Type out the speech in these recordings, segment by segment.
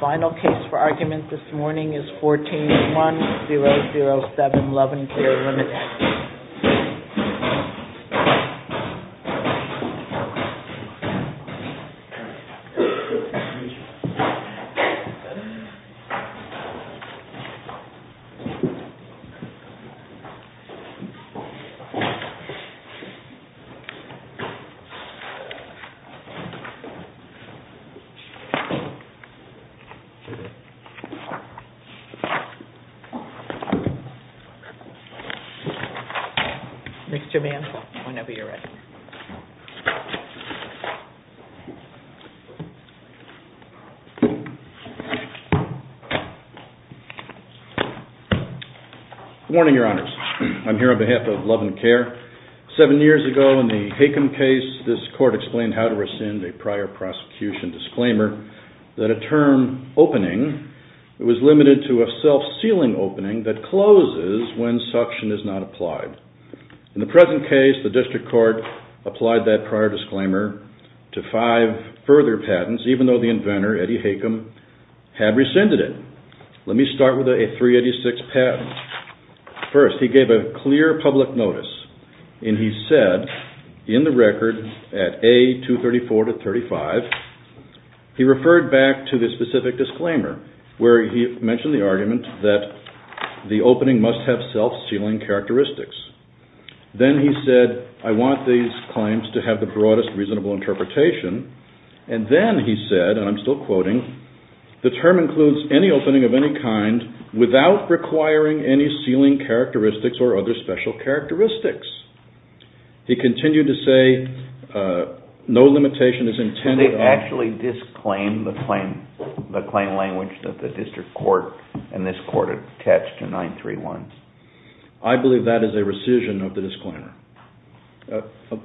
Final case for argument this morning is 14-1007, Love N'' Care Ltd. 7 years ago in the Hakem case, this court explained how to rescind a prior prosecution disclaimer that a term opening was limited to a self-sealing opening that closes when suction is not applied. In the present case, the district court applied that prior disclaimer to five further patents even though the inventor, Eddie Hakem, had rescinded it. Let me start with a 386 patent. First, he gave a clear public notice and he said in the record at A. 234-35, he referred back to the specific disclaimer where he mentioned the argument that the opening must have self-sealing characteristics. Then he said I want these claims to have the broadest reasonable interpretation and then he said, and I'm still quoting, the term includes any opening of any kind without requiring any sealing characteristics or other special characteristics. He continued to say no limitation is intended on... Did they actually disclaim the claim language that the district court and this court attached to 931? I believe that is a rescission of the disclaimer.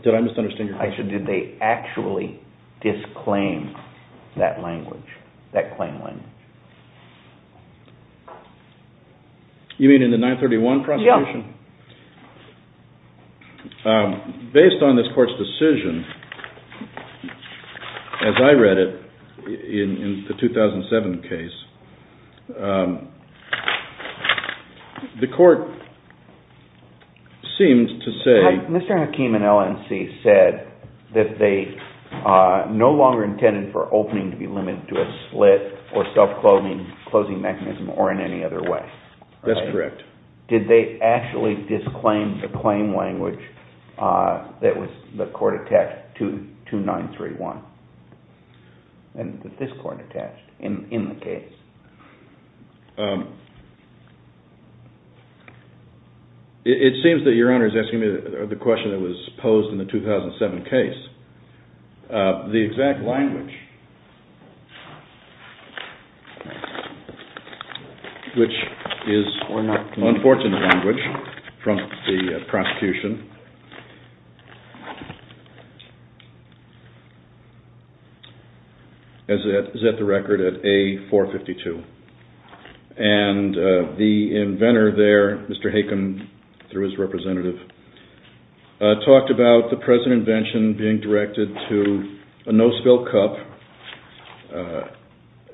Did I misunderstand your question? Did they actually disclaim that claim language? You mean in the 931 prosecution? Yes. Based on this court's decision, as I read it in the 2007 case, the court seemed to say... Mr. Hakem and LNC said that they no longer intended for opening to be limited to a slit or self-closing mechanism or in any other way. That's correct. Did they actually disclaim the claim language that the court attached to 931 and that this court attached in the case? It seems that your Honor is asking me the question that was posed in the 2007 case. The exact language, which is unfortunate language from the prosecution, is at the record at A452. The inventor there, Mr. Hakem, through his representative, talked about the present invention being directed to a no-spill cup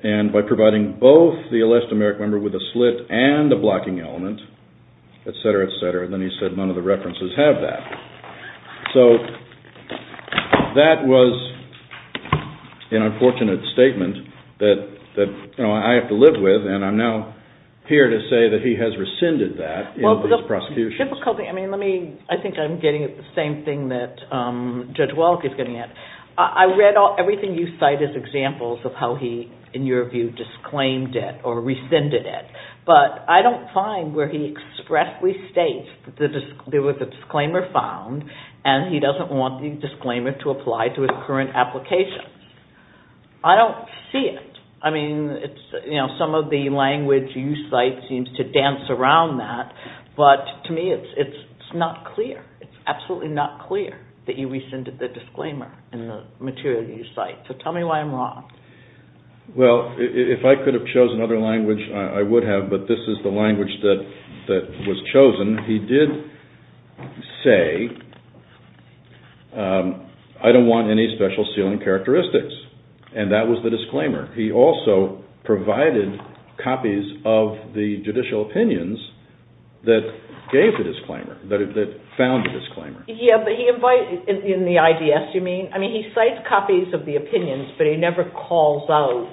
and by providing both the elastomeric member with a slit and a blocking element, etc., etc. Then he said none of the references have that. So that was an unfortunate statement that I have to live with and I'm now here to say that he has rescinded that in this prosecution. I think I'm getting at the same thing that Judge Wallach is getting at. I read everything you cite as examples of how he, in your view, disclaimed it or rescinded it, but I don't find where he expressly states that there was a disclaimer found and he doesn't want the disclaimer to apply to his current application. I don't see it. Some of the language you cite seems to dance around that, but to me it's not clear. It's absolutely not clear that you rescinded the disclaimer in the material that you cite. So tell me why I'm wrong. Well, if I could have chosen other language, I would have, but this is the language that was chosen. He did say, I don't want any special sealing characteristics, and that was the disclaimer. He also provided copies of the judicial opinions that gave the disclaimer, that found the disclaimer. In the IDS, you mean? I mean, he cites copies of the opinions, but he never calls out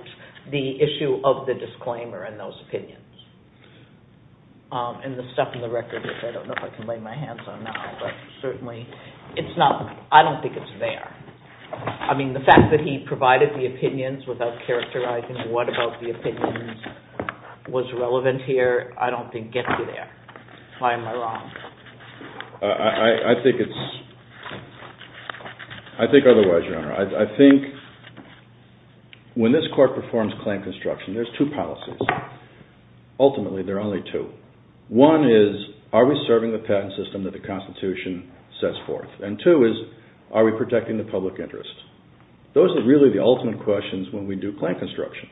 the issue of the disclaimer in those opinions. And the stuff in the records, I don't know if I can lay my hands on now, but certainly, I don't think it's there. I mean, the fact that he provided the opinions without characterizing what about the opinions was relevant here, I don't think gets you there. Why am I wrong? I think otherwise, Your Honor. I think when this court performs claim construction, there's two policies. Ultimately, there are only two. One is, are we serving the patent system that the Constitution sets forth? And two is, are we protecting the public interest? Those are really the ultimate questions when we do claim construction.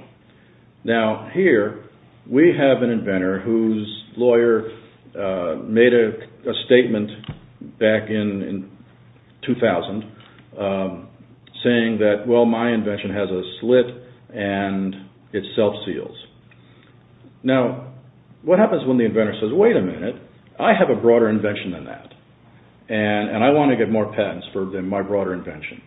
Now, here, we have an inventor whose lawyer made a statement back in 2000 saying that, well, my invention has a slit and it self-seals. Now, what happens when the inventor says, wait a minute, I have a broader invention than that, and I want to get more patents for my broader invention?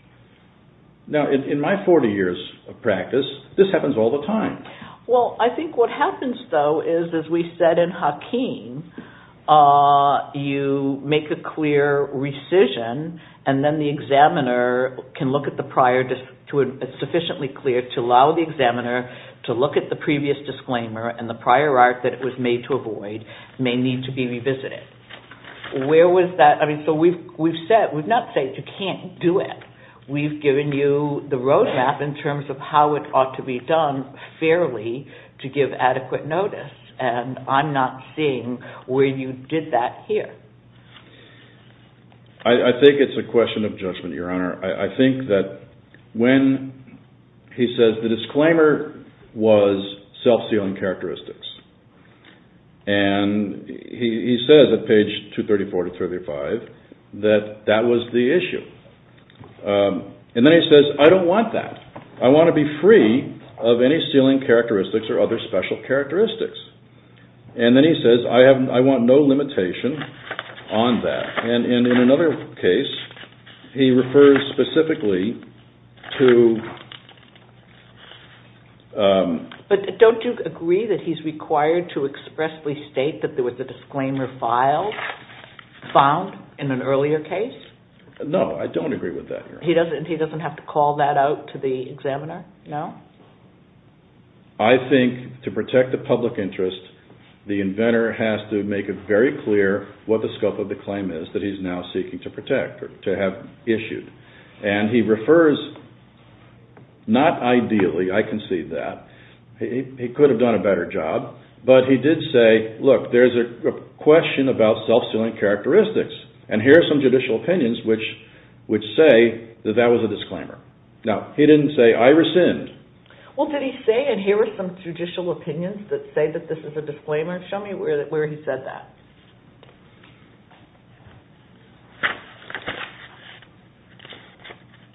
Now, in my 40 years of practice, this happens all the time. Well, I think what happens, though, is, as we said in Hakeem, you make a clear rescission and then the examiner can look at the prior, it's sufficiently clear to allow the examiner to look at the previous disclaimer and the prior art that it was made to avoid may need to be revisited. Where was that? I mean, so we've not said you can't do it. We've given you the roadmap in terms of how it ought to be done fairly to give adequate notice, and I'm not seeing where you did that here. I think it's a question of judgment, Your Honor. I think that when he says the disclaimer was self-sealing characteristics, and he says at page 234 to 235 that that was the issue. And then he says, I don't want that. I want to be free of any sealing characteristics or other special characteristics. And then he says, I want no limitation on that. And in another case, he refers specifically to… But don't you agree that he's required to expressly state that there was a disclaimer filed, found in an earlier case? No, I don't agree with that, Your Honor. He doesn't have to call that out to the examiner? No? I think to protect the public interest, the inventor has to make it very clear what the scope of the claim is that he's now seeking to protect or to have issued. And he refers, not ideally, I concede that. He could have done a better job. But he did say, look, there's a question about self-sealing characteristics, and here are some judicial opinions which say that that was a disclaimer. Now, he didn't say, I rescind. Well, did he say, and here are some judicial opinions that say that this is a disclaimer? Show me where he said that.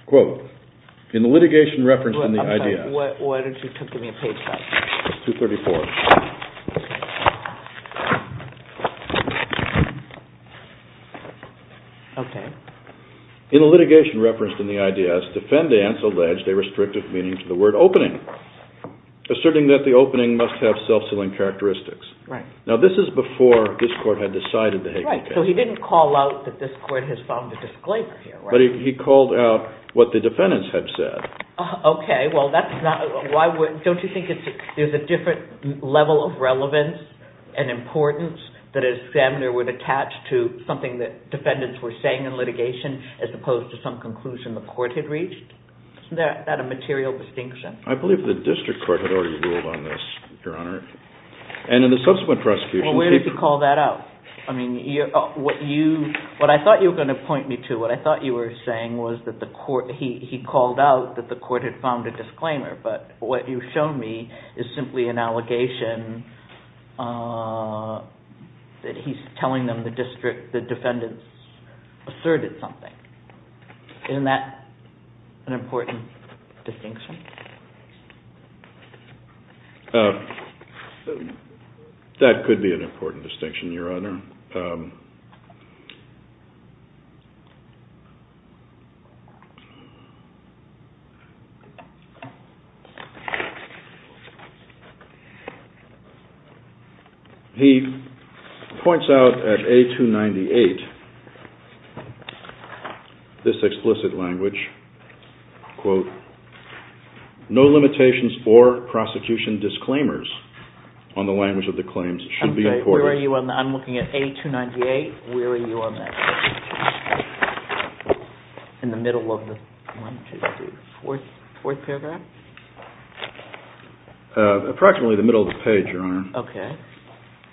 Quote, in the litigation referenced in the I.D.S. What page is that? It's 234. Okay. In the litigation referenced in the I.D.S., defendants alleged a restrictive meaning to the word opening, asserting that the opening must have self-sealing characteristics. Right. Now, this is before this Court had decided to take the case. Right, so he didn't call out that this Court has filed a disclaimer here, right? But he called out what the defendants had said. Okay, well, that's not, why would, don't you think there's a different level of relevance and importance that an examiner would attach to something that defendants were saying in litigation as opposed to some conclusion the Court had reached? Isn't that a material distinction? I believe the District Court had already ruled on this, Your Honor. And in the subsequent prosecution, he... Well, where did he call that out? I mean, what you, what I thought you were going to point me to, what I thought you were saying was that the Court, he called out that the Court had found a disclaimer. But what you've shown me is simply an allegation that he's telling them the District, the defendants asserted something. Isn't that an important distinction? That could be an important distinction, Your Honor. He points out at A298 this explicit language, quote, no limitations or prosecution disclaimers on the language of the claims should be reported. Okay, where are you on that? I'm looking at A298. Where are you on that? In the middle of the, one, two, three, four, fourth paragraph? Approximately the middle of the page, Your Honor. Okay.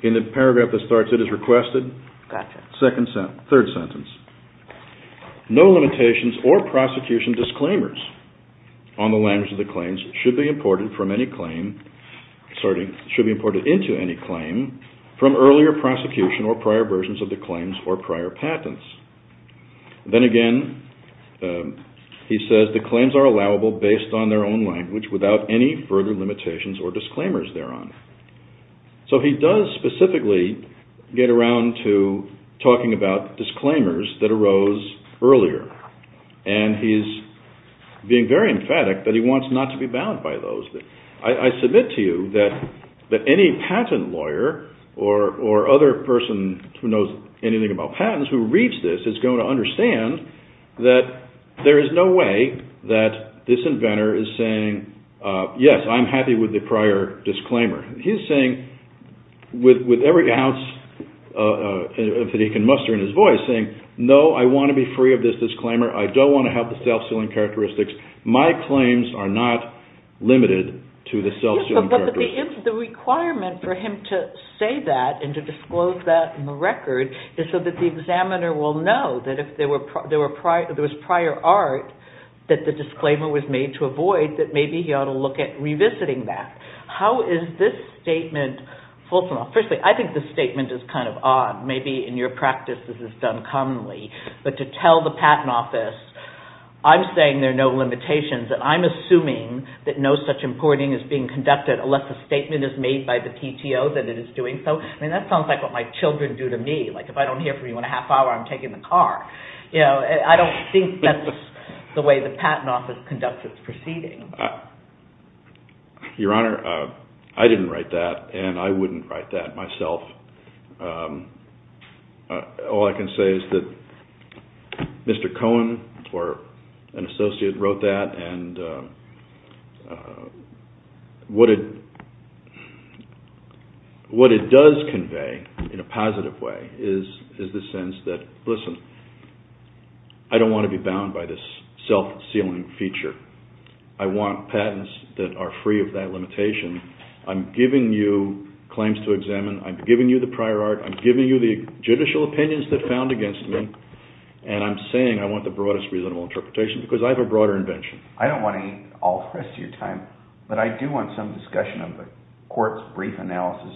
In the paragraph that starts, it is requested. Gotcha. Second sentence, third sentence. No limitations or prosecution disclaimers on the language of the claims should be imported from any claim, sorry, should be imported into any claim from earlier prosecution or prior versions of the claims or prior patents. Then again, he says the claims are allowable based on their own language without any further limitations or disclaimers thereon. So he does specifically get around to talking about disclaimers that arose earlier, and he's being very emphatic that he wants not to be bound by those. I submit to you that any patent lawyer or other person who knows anything about patents who reads this is going to understand that there is no way that this inventor is saying, yes, I'm happy with the prior disclaimer. He's saying with every ounce that he can muster in his voice, he's saying, no, I want to be free of this disclaimer. I don't want to have the self-suing characteristics. My claims are not limited to the self-suing characteristics. But the requirement for him to say that and to disclose that in the record is so that the examiner will know that if there was prior art that the disclaimer was made to avoid, that maybe he ought to look at revisiting that. How is this statement fulsome? Firstly, I think this statement is kind of odd. Maybe in your practice this is done commonly. But to tell the patent office, I'm saying there are no limitations, and I'm assuming that no such importing is being conducted unless a statement is made by the PTO that it is doing so. I mean, that sounds like what my children do to me. Like if I don't hear from you in a half hour, I'm taking the car. I don't think that's the way the patent office conducts its proceedings. Your Honor, I didn't write that, and I wouldn't write that myself. All I can say is that Mr. Cohen or an associate wrote that, and what it does convey in a positive way is the sense that, listen, I don't want to be bound by this self-suing feature. I want patents that are free of that limitation. I'm giving you claims to examine. I'm giving you the prior art. I'm giving you the judicial opinions that are found against me, and I'm saying I want the broadest reasonable interpretation because I have a broader invention. I don't want to eat all the rest of your time, but I do want some discussion of the court's brief analysis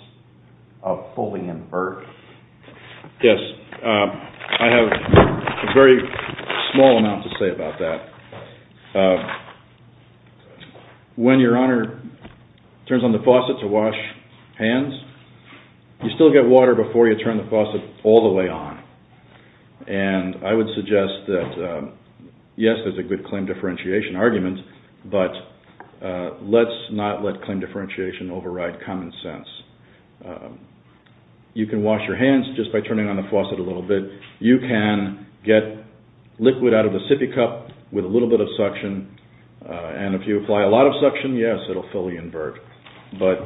of Foley and Burke. Yes, I have a very small amount to say about that. When your Honor turns on the faucet to wash hands, you still get water before you turn the faucet all the way on, and I would suggest that, yes, there's a good claim differentiation argument, but let's not let claim differentiation override common sense. You can wash your hands just by turning on the faucet a little bit. You can get liquid out of a sippy cup with a little bit of suction, and if you apply a lot of suction, yes, it will fully invert, but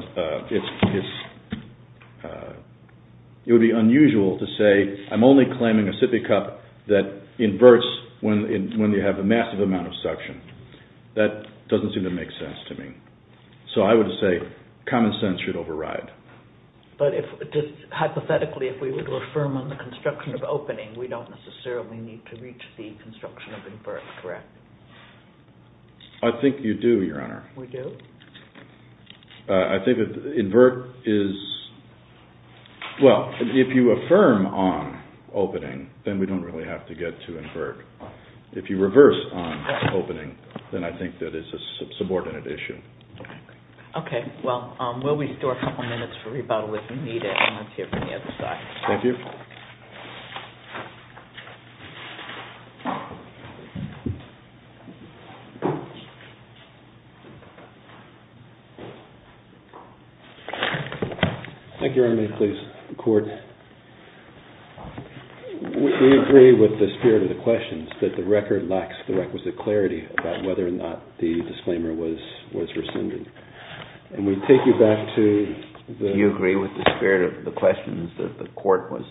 it would be unusual to say I'm only claiming a sippy cup that inverts when you have a massive amount of suction. That doesn't seem to make sense to me. So I would say common sense should override. But hypothetically, if we were to affirm on the construction of opening, we don't necessarily need to reach the construction of invert, correct? I think you do, Your Honor. We do? I think invert is, well, if you affirm on opening, then we don't really have to get to invert. If you reverse on opening, then I think that is a subordinate issue. Okay. Well, while we store a couple of minutes for rebuttal, if you need it, I'm going to take it from the other side. Thank you. Thank you, Your Honor. Please, the Court. We agree with the spirit of the questions that the record lacks the requisite clarity about whether or not the disclaimer was rescinded. And we take you back to the – Do you agree with the spirit of the questions that the Court was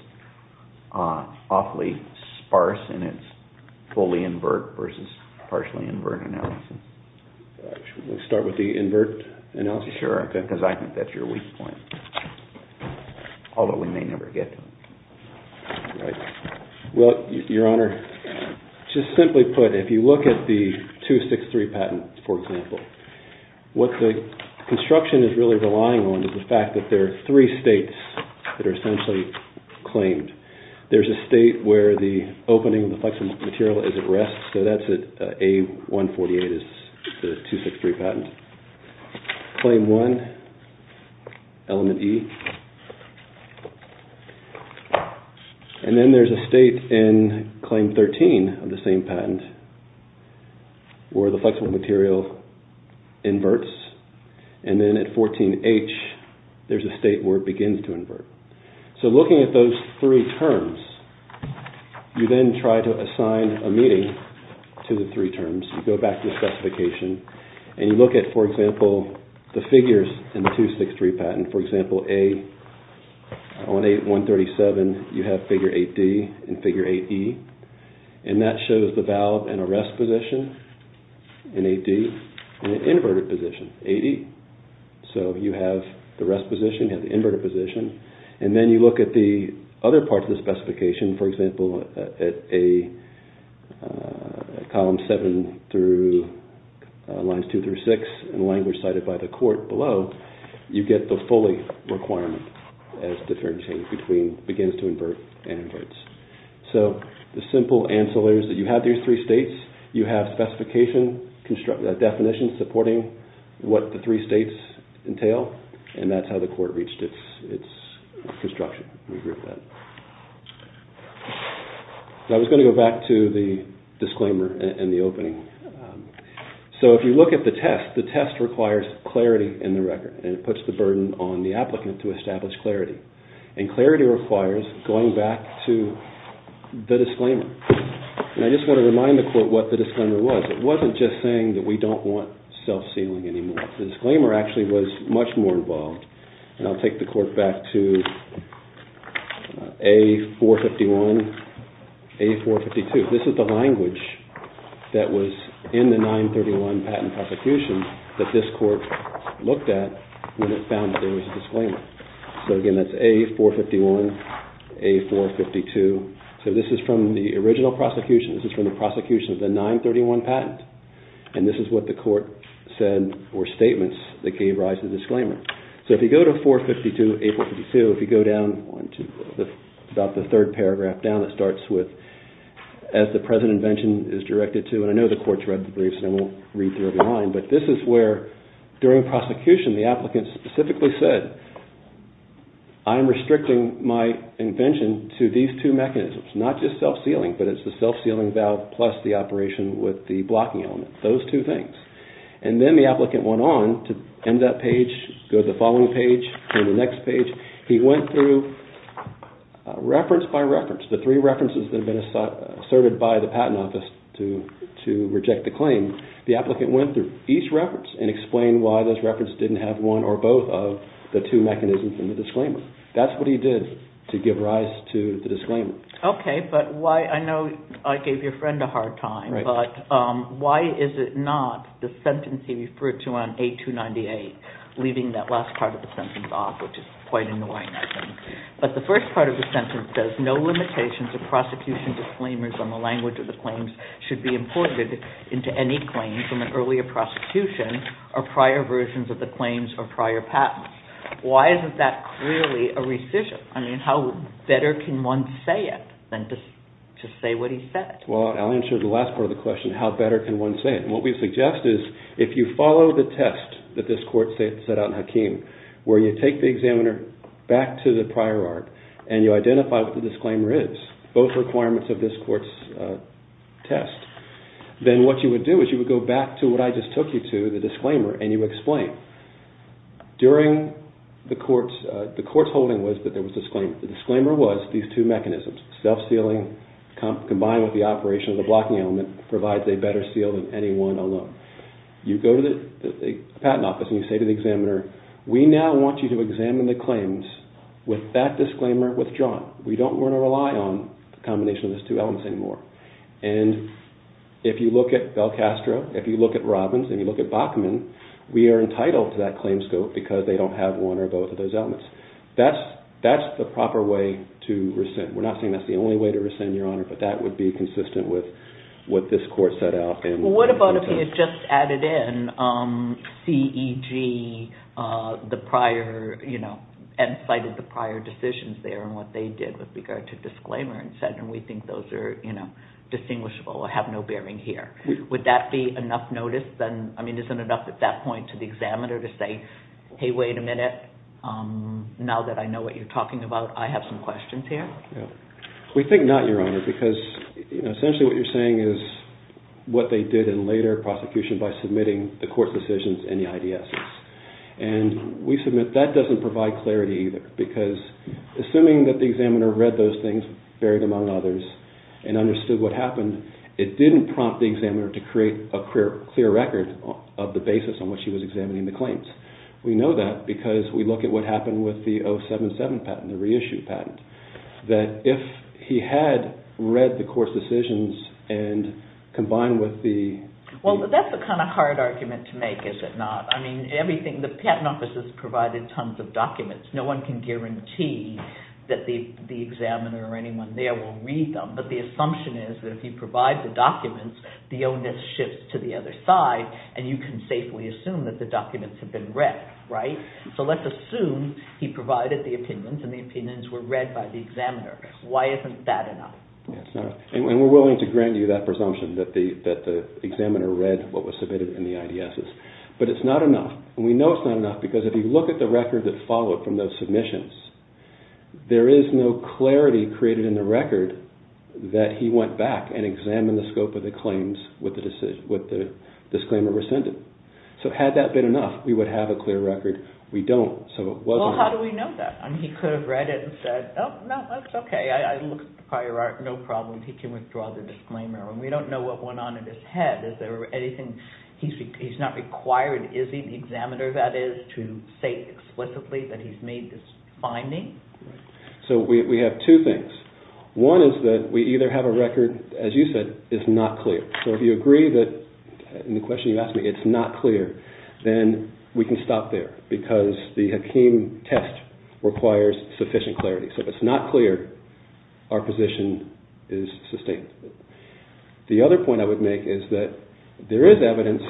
awfully sparse in its fully invert versus partially invert analysis? Should we start with the invert analysis? Sure. Because I think that's your weak point. Although we may never get to it. Well, Your Honor, just simply put, if you look at the 263 patent, for example, what the construction is really relying on is the fact that there are three states that are essentially claimed. There's a state where the opening of the flexible material is at rest, so that's at A148 is the 263 patent. Claim one, element E. And then there's a state in claim 13 of the same patent where the flexible material inverts. And then at 14H, there's a state where it begins to invert. So looking at those three terms, you then try to assign a meeting to the three terms. You go back to the specification, and you look at, for example, the figures in the 263 patent. For example, A18137, you have figure 8D and figure 8E. And that shows the valve in a rest position in 8D, and an inverted position, 8E. So you have the rest position, you have the inverted position. And then you look at the other parts of the specification. For example, at column 7 through lines 2 through 6, in language cited by the court below, you get the Foley requirement as deterrent change begins to invert and inverts. So the simple answer there is that you have these three states, you have specification, definition supporting what the three states entail, and that's how the court reached its construction. I was going to go back to the disclaimer in the opening. So if you look at the test, the test requires clarity in the record, and it puts the burden on the applicant to establish clarity. And clarity requires going back to the disclaimer. And I just want to remind the court what the disclaimer was. It wasn't just saying that we don't want self-sealing anymore. The disclaimer actually was much more involved. And I'll take the court back to A451, A452. This is the language that was in the 931 patent prosecution that this court looked at when it found that there was a disclaimer. So again, that's A451, A452. So this is from the original prosecution. This is from the prosecution of the 931 patent. And this is what the court said or statements that gave rise to the disclaimer. So if you go to 452, A452, if you go down to about the third paragraph down, it starts with, as the present invention is directed to, and I know the court's read the briefs and I won't read through every line, but this is where during prosecution the applicant specifically said, I am restricting my invention to these two mechanisms, not just self-sealing, but it's the self-sealing valve plus the operation with the blocking element. Those two things. And then the applicant went on to end that page, go to the following page, go to the next page. He went through reference by reference, the three references that have been asserted by the patent office to reject the claim. The applicant went through each reference and explained why those references didn't have one or both of the two mechanisms in the disclaimer. That's what he did to give rise to the disclaimer. Okay, but I know I gave your friend a hard time, but why is it not the sentence he referred to on A298, leaving that last part of the sentence off, which is quite annoying, I think. But the first part of the sentence says, no limitations of prosecution disclaimers on the language of the claims should be imported into any claims from an earlier prosecution or prior versions of the claims or prior patents. Why isn't that clearly a rescission? I mean, how better can one say it than to say what he said? Well, I'll answer the last part of the question, how better can one say it? And what we suggest is if you follow the test that this court set out in Hakeem, where you take the examiner back to the prior art and you identify what the disclaimer is, both requirements of this court's test, then what you would do is you would go back to what I just took you to, the disclaimer, and you explain. During the court's holding was that there was a disclaimer. The disclaimer was these two mechanisms, self-sealing combined with the operation of the blocking element provides a better seal than any one alone. You go to the patent office and you say to the examiner, we now want you to examine the claims with that disclaimer withdrawn. We don't want to rely on a combination of those two elements anymore. And if you look at Belcastro, if you look at Robbins, if you look at Bachman, we are entitled to that claim scope because they don't have one or both of those elements. That's the proper way to rescind. We're not saying that's the only way to rescind, Your Honor, but that would be consistent with what this court set out. What about if you just added in CEG and cited the prior decisions there and what they did with regard to disclaimer and said we think those are distinguishable or have no bearing here. Would that be enough notice? Isn't it enough at that point to the examiner to say, hey, wait a minute, now that I know what you're talking about, I have some questions here? We think not, Your Honor, because essentially what you're saying is what they did in later prosecution by submitting the court decisions and the IDSs. And we submit that doesn't provide clarity either because assuming that the examiner read those things, varied among others, and understood what happened, it didn't prompt the examiner to create a clear record of the basis on which he was examining the claims. We know that because we look at what happened with the 077 patent, the reissued patent, that if he had read the court decisions and combined with the... Well, that's the kind of hard argument to make, is it not? I mean, the patent office has provided tons of documents. No one can guarantee that the examiner or anyone there will read them, but the assumption is that if he provides the documents, the onus shifts to the other side and you can safely assume that the documents have been read, right? So let's assume he provided the opinions and the opinions were read by the examiner. Why isn't that enough? And we're willing to grant you that presumption that the examiner read what was submitted in the IDSs. But it's not enough, and we know it's not enough because if you look at the record that followed from those submissions, there is no clarity created in the record that he went back and examined the scope of the claims with the disclaimer rescinded. So had that been enough, we would have a clear record. We don't, so it wasn't... Well, how do we know that? I mean, he could have read it and said, oh, no, that's okay, I looked at the prior art, no problem, he can withdraw the disclaimer. We don't know what went on in his head. He's not required, is he, the examiner, that is, to say explicitly that he's made this finding? So we have two things. One is that we either have a record, as you said, is not clear. So if you agree that, in the question you asked me, it's not clear, then we can stop there because the Hakeem test requires sufficient clarity. So if it's not clear, our position is sustained. The other point I would make is that there is evidence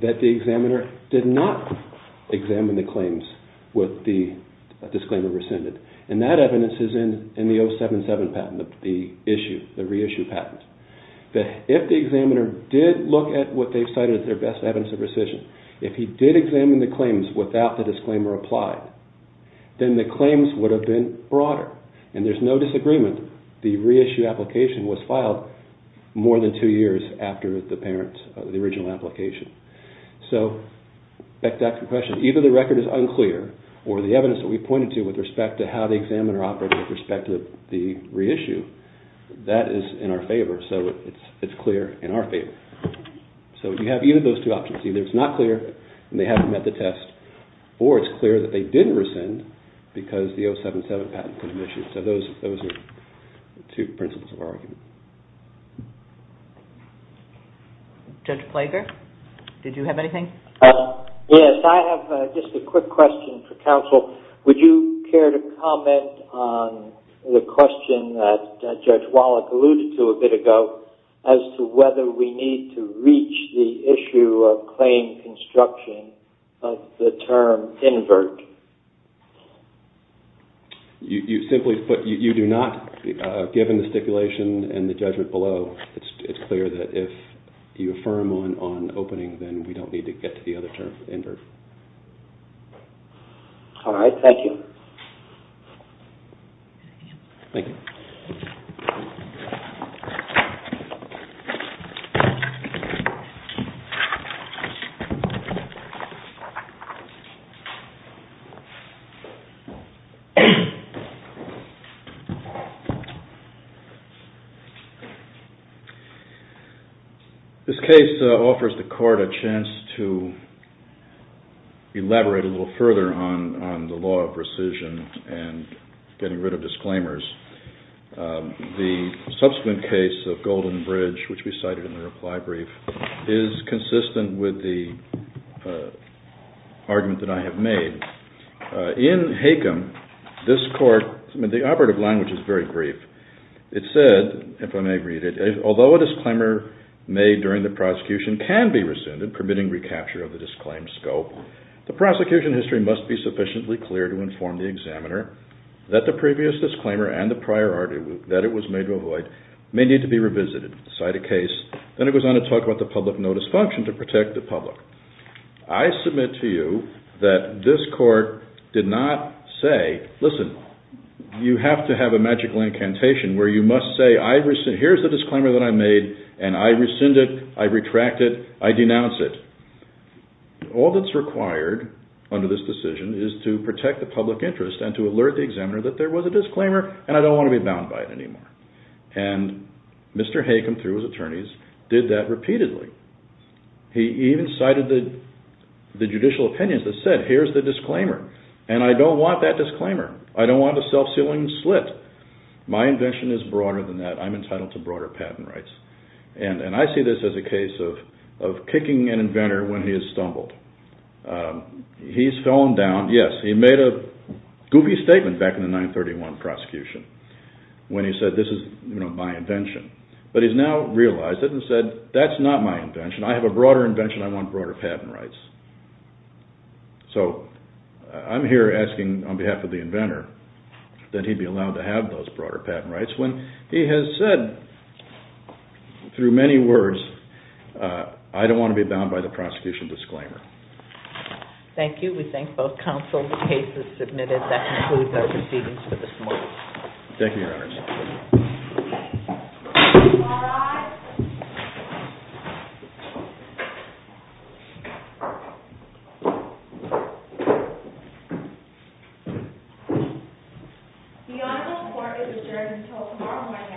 that the examiner did not examine the claims with the disclaimer rescinded, and that evidence is in the 077 patent, the issue, the reissue patent. If the examiner did look at what they've cited as their best evidence of rescission, if he did examine the claims without the disclaimer applied, then the claims would have been broader, and there's no disagreement. The reissue application was filed more than two years after the original application. So back to that question. Either the record is unclear, or the evidence that we pointed to with respect to how the examiner operated with respect to the reissue, that is in our favor, so it's clear in our favor. So you have either of those two options. Either it's not clear and they haven't met the test, or it's clear that they didn't rescind because the 077 patent was issued. So those are two principles of argument. Judge Plager, did you have anything? Yes, I have just a quick question for counsel. Would you care to comment on the question that Judge Wallach alluded to a bit ago as to whether we need to reach the issue of claim construction of the term invert? You simply put, you do not, given the stipulation and the judgment below, it's clear that if you affirm on opening, then we don't need to get to the other term invert. All right, thank you. Thank you. Thank you. This case offers the court a chance to elaborate a little further on the law of rescission and getting rid of disclaimers. The subsequent case of Golden Bridge, which we cited in the reply brief, is consistent with the argument that I have made in Hakem, this court, the operative language is very brief. It said, if I may read it, although a disclaimer made during the prosecution can be rescinded, permitting recapture of the disclaimed scope, the prosecution history must be sufficiently clear to inform the examiner that the previous disclaimer and the priority that it was made to avoid may need to be revisited. Cite a case. Then it goes on to talk about the public notice function to protect the public. I submit to you that this court did not say, listen, you have to have a magical incantation where you must say, here's the disclaimer that I made and I rescind it, I retract it, I denounce it. All that's required under this decision is to protect the public interest and to alert the examiner that there was a disclaimer and I don't want to be bound by it anymore. And Mr. Hakem, through his attorneys, did that repeatedly. He even cited the judicial opinions that said, here's the disclaimer and I don't want that disclaimer. I don't want a self-sealing slit. My invention is broader than that. I'm entitled to broader patent rights. And I see this as a case of kicking an inventor when he has stumbled. He's fallen down. Yes, he made a goofy statement back in the 931 prosecution when he said, this is my invention. But he's now realized it and said, that's not my invention. I have a broader invention. I want broader patent rights. So I'm here asking on behalf of the inventor that he be allowed to have those broader patent rights when he has said, through many words, I don't want to be bound by the prosecution disclaimer. Thank you. We thank both counsel. The case is submitted. That concludes our proceedings for this morning. Thank you, Your Honor. All rise. The honorable court is adjourned until tomorrow morning at 10 a.m.